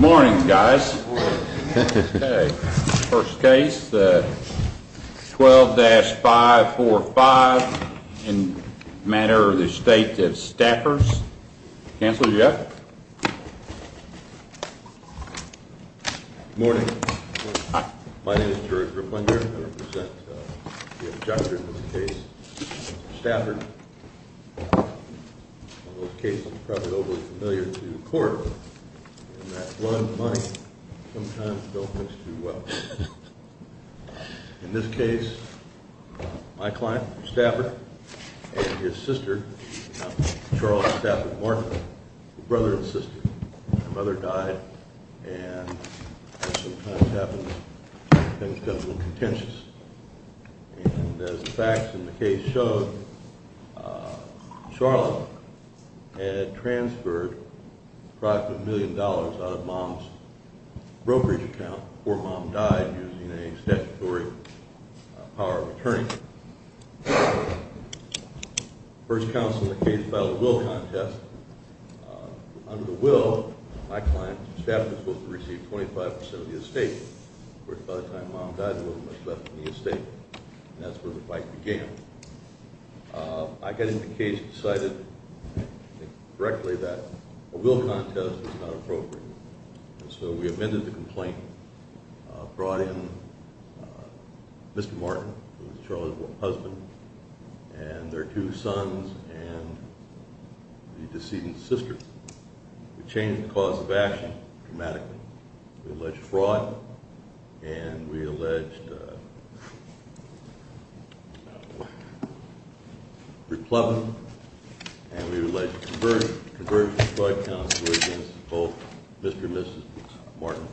Morning guys. First case 12-545 in matter of the Estate of Stafford. Counselor Jeff. Morning. My name is George Riplinger. I represent the Objection to the case of Stafford. In this case, my client, Stafford, and his sister, Charles Stafford Morning, brother and sister. My mother died, and as sometimes happens, things get a little contentious. And as the facts in the case show, Charlotte had transferred approximately a million dollars out of mom's brokerage account before mom died using a statutory power of attorney. First counsel in the case filed a will contest. Under the will, my client, Stafford, was supposed to receive 25% of the estate. Of course, by the time mom died, there wasn't much left of the estate, and that's where the fight began. I got into the case and decided directly that a will contest was not appropriate. So we amended the complaint, brought in Mr. Martin, who was Charlotte's husband, and their two sons and the decedent's sister. We changed the cause of action dramatically. We alleged fraud, and we alleged replubbing, and we alleged conversion. The conversion fraud counts were against both Mr. and Mrs. Martin,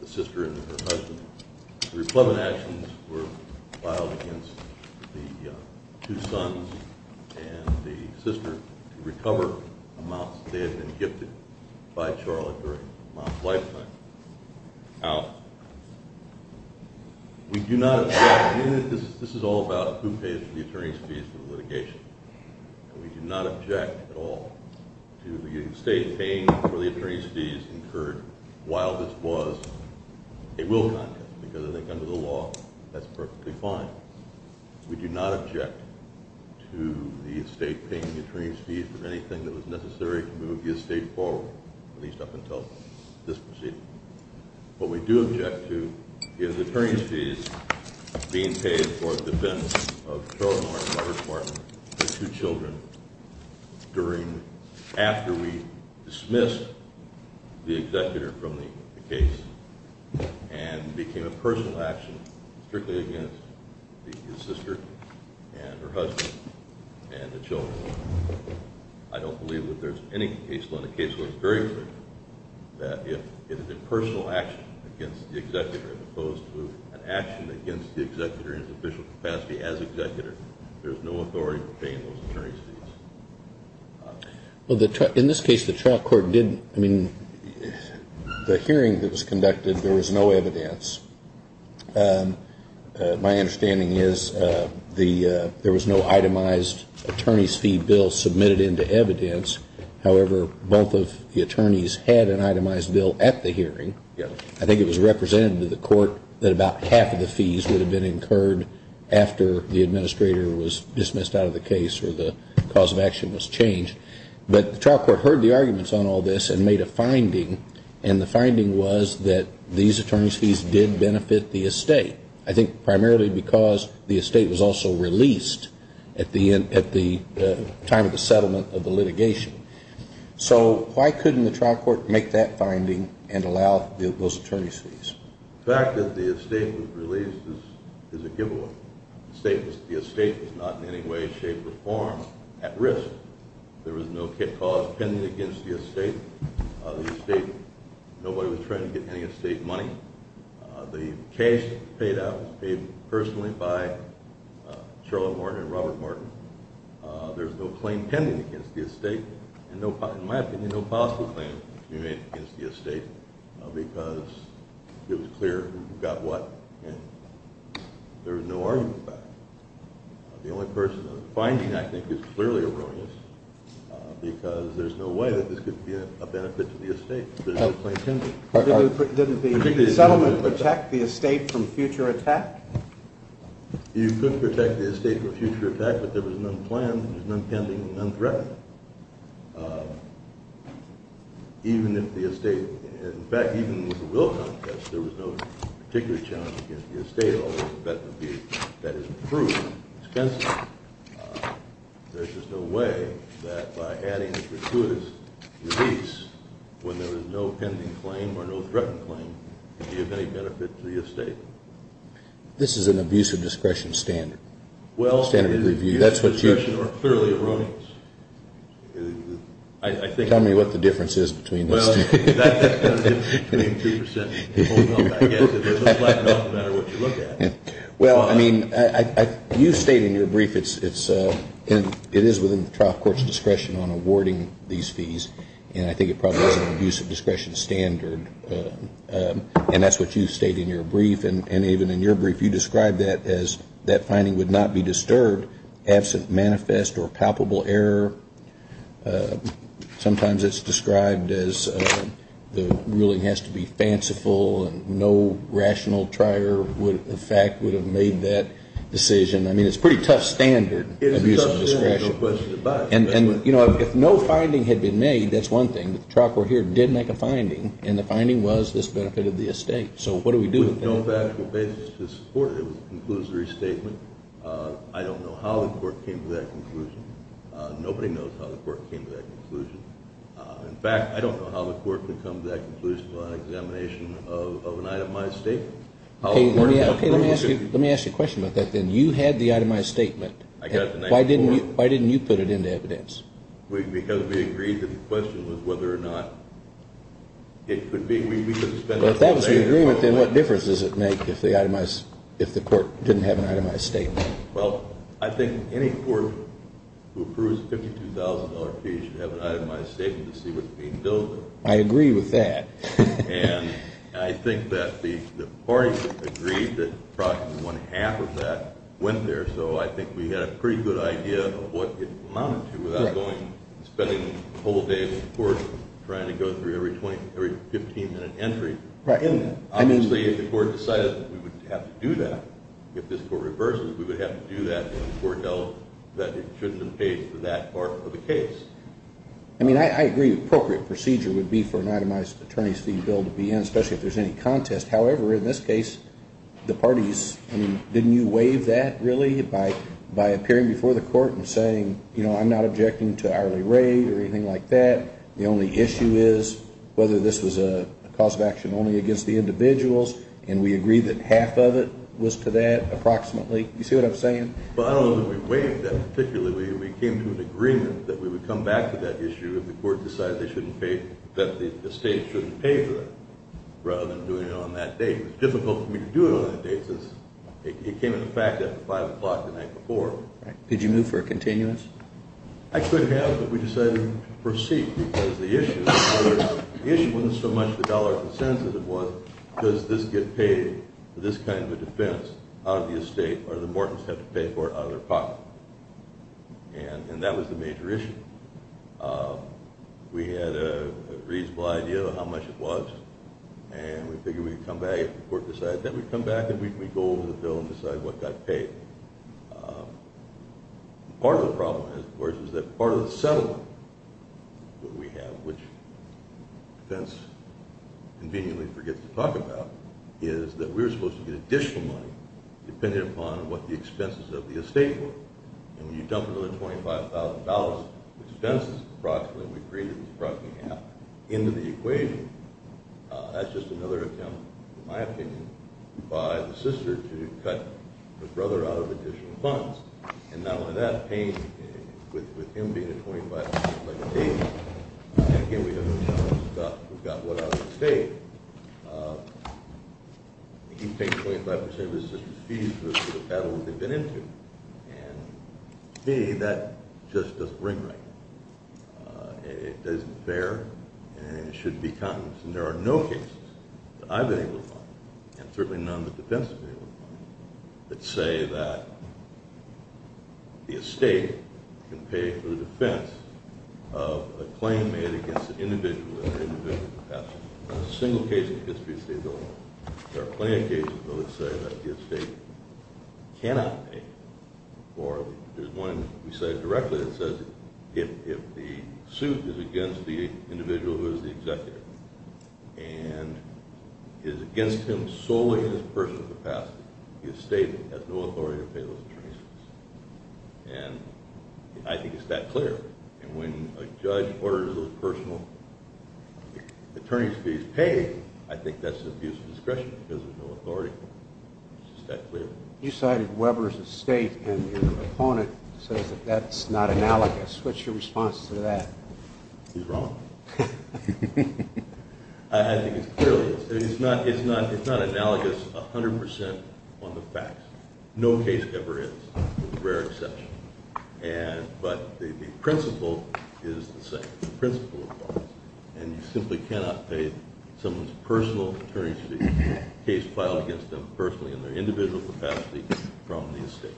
the sister and her husband. The replubbing actions were filed against the two sons and the sister to recover amounts they had been gifted by Charlotte during mom's lifetime. Now, we do not object. This is all about who pays the attorney's fees for the litigation. We do not object at all to the estate paying for the attorney's fees incurred while this was a will contest, because I think under the law, that's perfectly fine. We do not object to the estate paying the attorney's fees for anything that was necessary to move the estate forward, at least up until this proceeding. What we do object to is attorney's fees being paid for the defense of Charlotte Martin and Robert Martin, their two children, after we dismissed the executor from the case and became a personal action strictly against his sister and her husband and the children. I don't believe that there's any case law in the case where it's very clear that if it is a personal action against the executor, as opposed to an action against the executor in his official capacity as executor, there's no authority for paying those attorney's fees. Well, in this case, the trial court did, I mean, the hearing that was conducted, there was no evidence. My understanding is there was no itemized attorney's fee bill submitted into evidence. However, both of the attorneys had an itemized bill at the hearing. I think it was represented to the court that about half of the fees would have been incurred after the administrator was dismissed out of the case or the cause of action was changed. But the trial court heard the arguments on all this and made a finding, and the finding was that these attorney's fees did benefit the estate. I think primarily because the estate was also released at the time of the settlement of the litigation. So why couldn't the trial court make that finding and allow those attorney's fees? The fact that the estate was released is a giveaway. The estate was not in any way, shape, or form at risk. There was no cause pending against the estate. Nobody was trying to get any estate money. The case paid out was paid personally by Charlotte Morton and Robert Morton. There's no claim pending against the estate and, in my opinion, no possible claim to be made against the estate because it was clear who got what and there was no argument about it. The only person in the finding, I think, is clearly erroneous because there's no way that this could be a benefit to the estate. There's no claim pending. Didn't the settlement protect the estate from future attack? You could protect the estate from future attack, but there was none planned, there was none pending, and none threatening. Even if the estate, in fact, even with the will contest, there was no particular challenge against the estate, although the bet would be that it would prove expensive. There's just no way that by adding a gratuitous release when there was no pending claim or no threatening claim could be of any benefit to the estate. This is an abuse of discretion standard, standard of review. Abuse of discretion or thoroughly erroneous. Tell me what the difference is between those two. Well, that's the difference between 2% and the full amount, I guess. It doesn't flatten out no matter what you look at. Well, I mean, you state in your brief it is within the trial court's discretion on awarding these fees, and I think it probably is an abuse of discretion standard, and that's what you state in your brief, and even in your brief you describe that as that finding would not be disturbed absent manifest or palpable error. Sometimes it's described as the ruling has to be fanciful and no rational trier of fact would have made that decision. I mean, it's a pretty tough standard, abuse of discretion. It's a tough standard, no question about it. And, you know, if no finding had been made, that's one thing, but the trial court here did make a finding, and the finding was this benefited the estate. So what do we do with that? With no factual basis to support it, it was a conclusory statement. I don't know how the court came to that conclusion. Nobody knows how the court came to that conclusion. In fact, I don't know how the court could come to that conclusion without an examination of an itemized statement. Okay, let me ask you a question about that, then. You had the itemized statement. I did. Why didn't you put it into evidence? Because we agreed that the question was whether or not it could be. If that was the agreement, then what difference does it make if the court didn't have an itemized statement? Well, I think any court who approves a $52,000 fee should have an itemized statement to see what's being billed. I agree with that. And I think that the parties agreed that probably one-half of that went there, so I think we had a pretty good idea of what it amounted to without going and spending a whole day with the court trying to go through every 15-minute entry. Obviously, if the court decided we would have to do that, if this court reverses, we would have to do that if the court held that it shouldn't have paid for that part of the case. I mean, I agree appropriate procedure would be for an itemized attorney's fee bill to be in, especially if there's any contest. However, in this case, the parties, I mean, didn't you waive that, really, by appearing before the court and saying, you know, I'm not objecting to hourly rate or anything like that. The only issue is whether this was a cause of action only against the individuals, and we agreed that half of it was to that approximately. You see what I'm saying? Well, I don't know that we waived that particularly. We came to an agreement that we would come back to that issue if the court decided they shouldn't pay, that the state shouldn't pay for it rather than doing it on that date. It was difficult for me to do it on that date since it came into effect at 5 o'clock the night before. Right. Did you move for a continuous? I could have, but we decided to proceed because the issue wasn't so much the dollar consensus as it was, does this get paid for this kind of a defense out of the estate, or do the mortgages have to pay for it out of their pocket? And that was the major issue. We had a reasonable idea of how much it was, and we figured we'd come back if the court decided that we'd come back, and then we'd go over the bill and decide what got paid. Part of the problem, of course, is that part of the settlement that we have, which the defense conveniently forgets to talk about, is that we were supposed to get additional money depending upon what the expenses of the estate were, and when you dump another $25,000 of expenses, approximately, we created this approximately half, into the equation. That's just another attempt, in my opinion, by the sister to cut her brother out of additional funds, and not only that, paying with him being at $25,000 like a baby, and, again, we have the challenge of who got what out of the estate. He paid 25% of his sister's fees for the battle that they'd been into, and, to me, that just doesn't ring right. It doesn't fare, and it shouldn't be countenance, and there are no cases that I've been able to find, and certainly none that the defense has been able to find, that say that the estate can pay for the defense of a claim made against an individual in an individual capacity. Not a single case in the history of the state of Illinois. There are plenty of cases, though, that say that the estate cannot pay, or there's one we cited directly that says, if the suit is against the individual who is the executive, and is against him solely in his personal capacity, the estate has no authority to pay those attorneys' fees, and I think it's that clear, and when a judge orders those personal attorney's fees paid, I think that's an abuse of discretion because there's no authority. It's just that clear. You cited Weber's estate, and your opponent says that that's not analogous. What's your response to that? He's wrong. I think it clearly is. It's not analogous 100 percent on the facts. No case ever is, with rare exception, but the principle is the same. and you simply cannot pay someone's personal attorney's fees for a case filed against them personally in their individual capacity from the estate.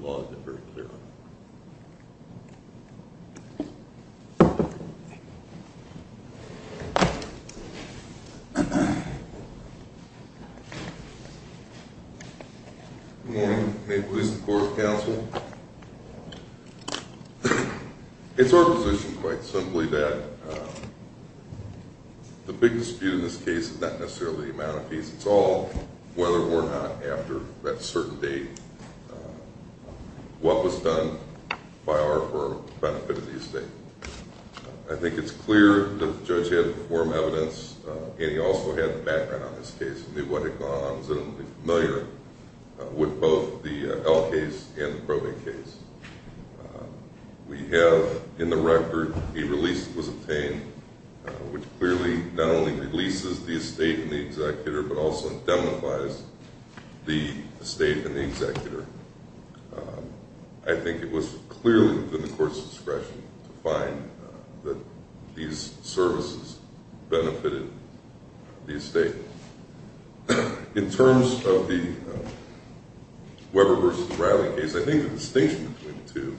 The law is very clear on that. Good morning. May it please the Court of Counsel. It's our position, quite simply, that the biggest dispute in this case is not necessarily the amount of fees. It's all whether or not, after that certain date, what was done by our firm for the benefit of the estate. I think it's clear that the judge had the form of evidence, and he also had the background on this case. He knew what had gone on. He was familiar with both the L case and the probate case. We have, in the record, a release was obtained, which clearly not only releases the estate and the executor, but also indemnifies the estate and the executor. I think it was clearly within the Court's discretion to find that these services benefited the estate. In terms of the Weber v. Riley case, I think the distinction between the two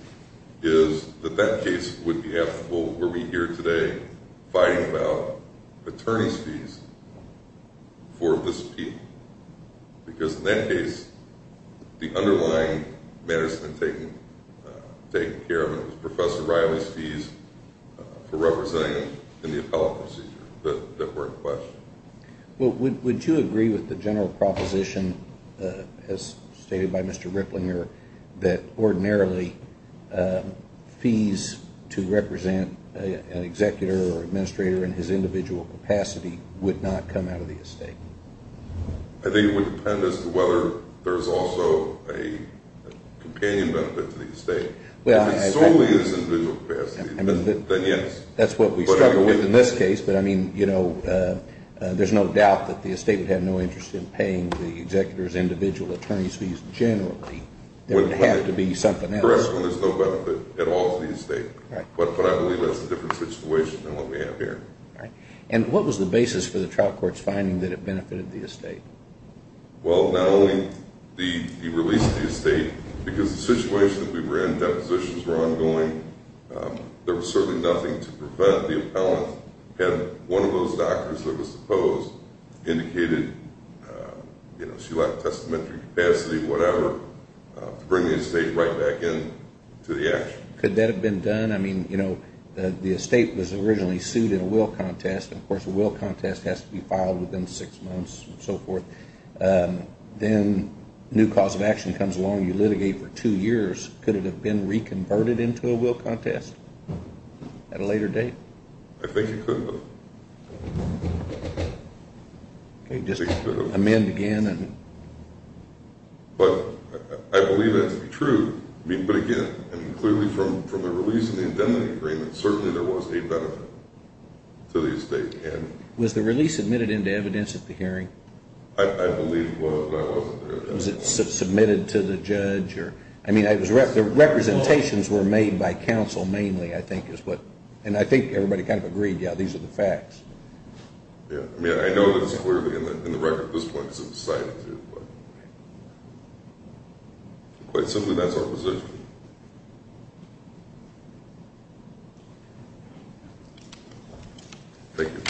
is that that case would be applicable were we here today fighting about attorney's fees for this appeal. Because in that case, the underlying matters had been taken care of. It was Professor Riley's fees for representing him in the appellate procedure that were in question. Would you agree with the general proposition, as stated by Mr. Riplinger, that ordinarily fees to represent an executor or administrator in his individual capacity would not come out of the estate? I think it would depend as to whether there's also a companion benefit to the estate. If it solely is individual capacity, then yes. That's what we struggle with in this case. But, I mean, you know, there's no doubt that the estate would have no interest in paying the executor's individual attorney's fees generally. There would have to be something else. Correct. Well, there's no benefit at all to the estate. But I believe that's a different situation than what we have here. And what was the basis for the trial court's finding that it benefited the estate? Well, not only the release of the estate, because the situation that we were in, depositions were ongoing, there was certainly nothing to prevent the appellant. And one of those doctors that was supposed indicated, you know, she lacked testamentary capacity, whatever, to bring the estate right back into the action. Could that have been done? I mean, you know, the estate was originally sued in a will contest. Of course, a will contest has to be filed within six months and so forth. Then a new cause of action comes along, you litigate for two years. Could it have been reconverted into a will contest at a later date? I think it could have. Okay, just amend again. But I believe that to be true. But again, clearly from the release of the indemnity agreement, certainly there was a benefit to the estate. Was the release admitted into evidence at the hearing? I believe it was, but I wasn't there. Was it submitted to the judge? I mean, the representations were made by counsel mainly, I think, and I think everybody kind of agreed, yeah, these are the facts. Yeah, I mean, I know that it's clearly in the record at this point, but quite simply, that's our position. Thank you.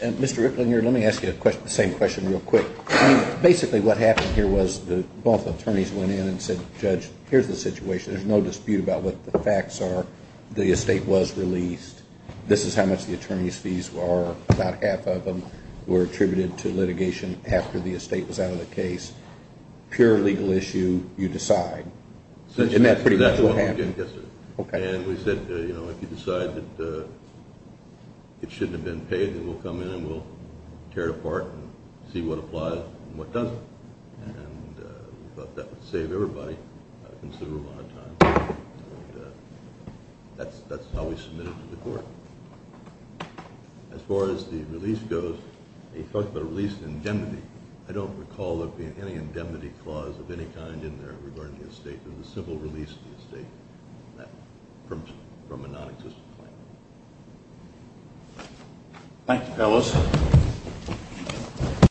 Mr. Ricklin, let me ask you the same question real quick. I mean, basically what happened here was both attorneys went in and said, Judge, here's the situation. There's no dispute about what the facts are. The estate was released. This is how much the attorney's fees are. About half of them were attributed to litigation after the estate was out of the case. Pure legal issue, you decide. Isn't that pretty much what happened? Yes, sir. And we said, you know, if you decide that it shouldn't have been paid, we'll come in and we'll tear it apart and see what applies and what doesn't. And we thought that would save everybody a considerable amount of time. And that's how we submitted it to the court. As far as the release goes, you talked about a release indemnity. I don't recall there being any indemnity clause of any kind in there regarding the estate. It was a simple release of the estate from a nonexistent claim. Thank you, fellas.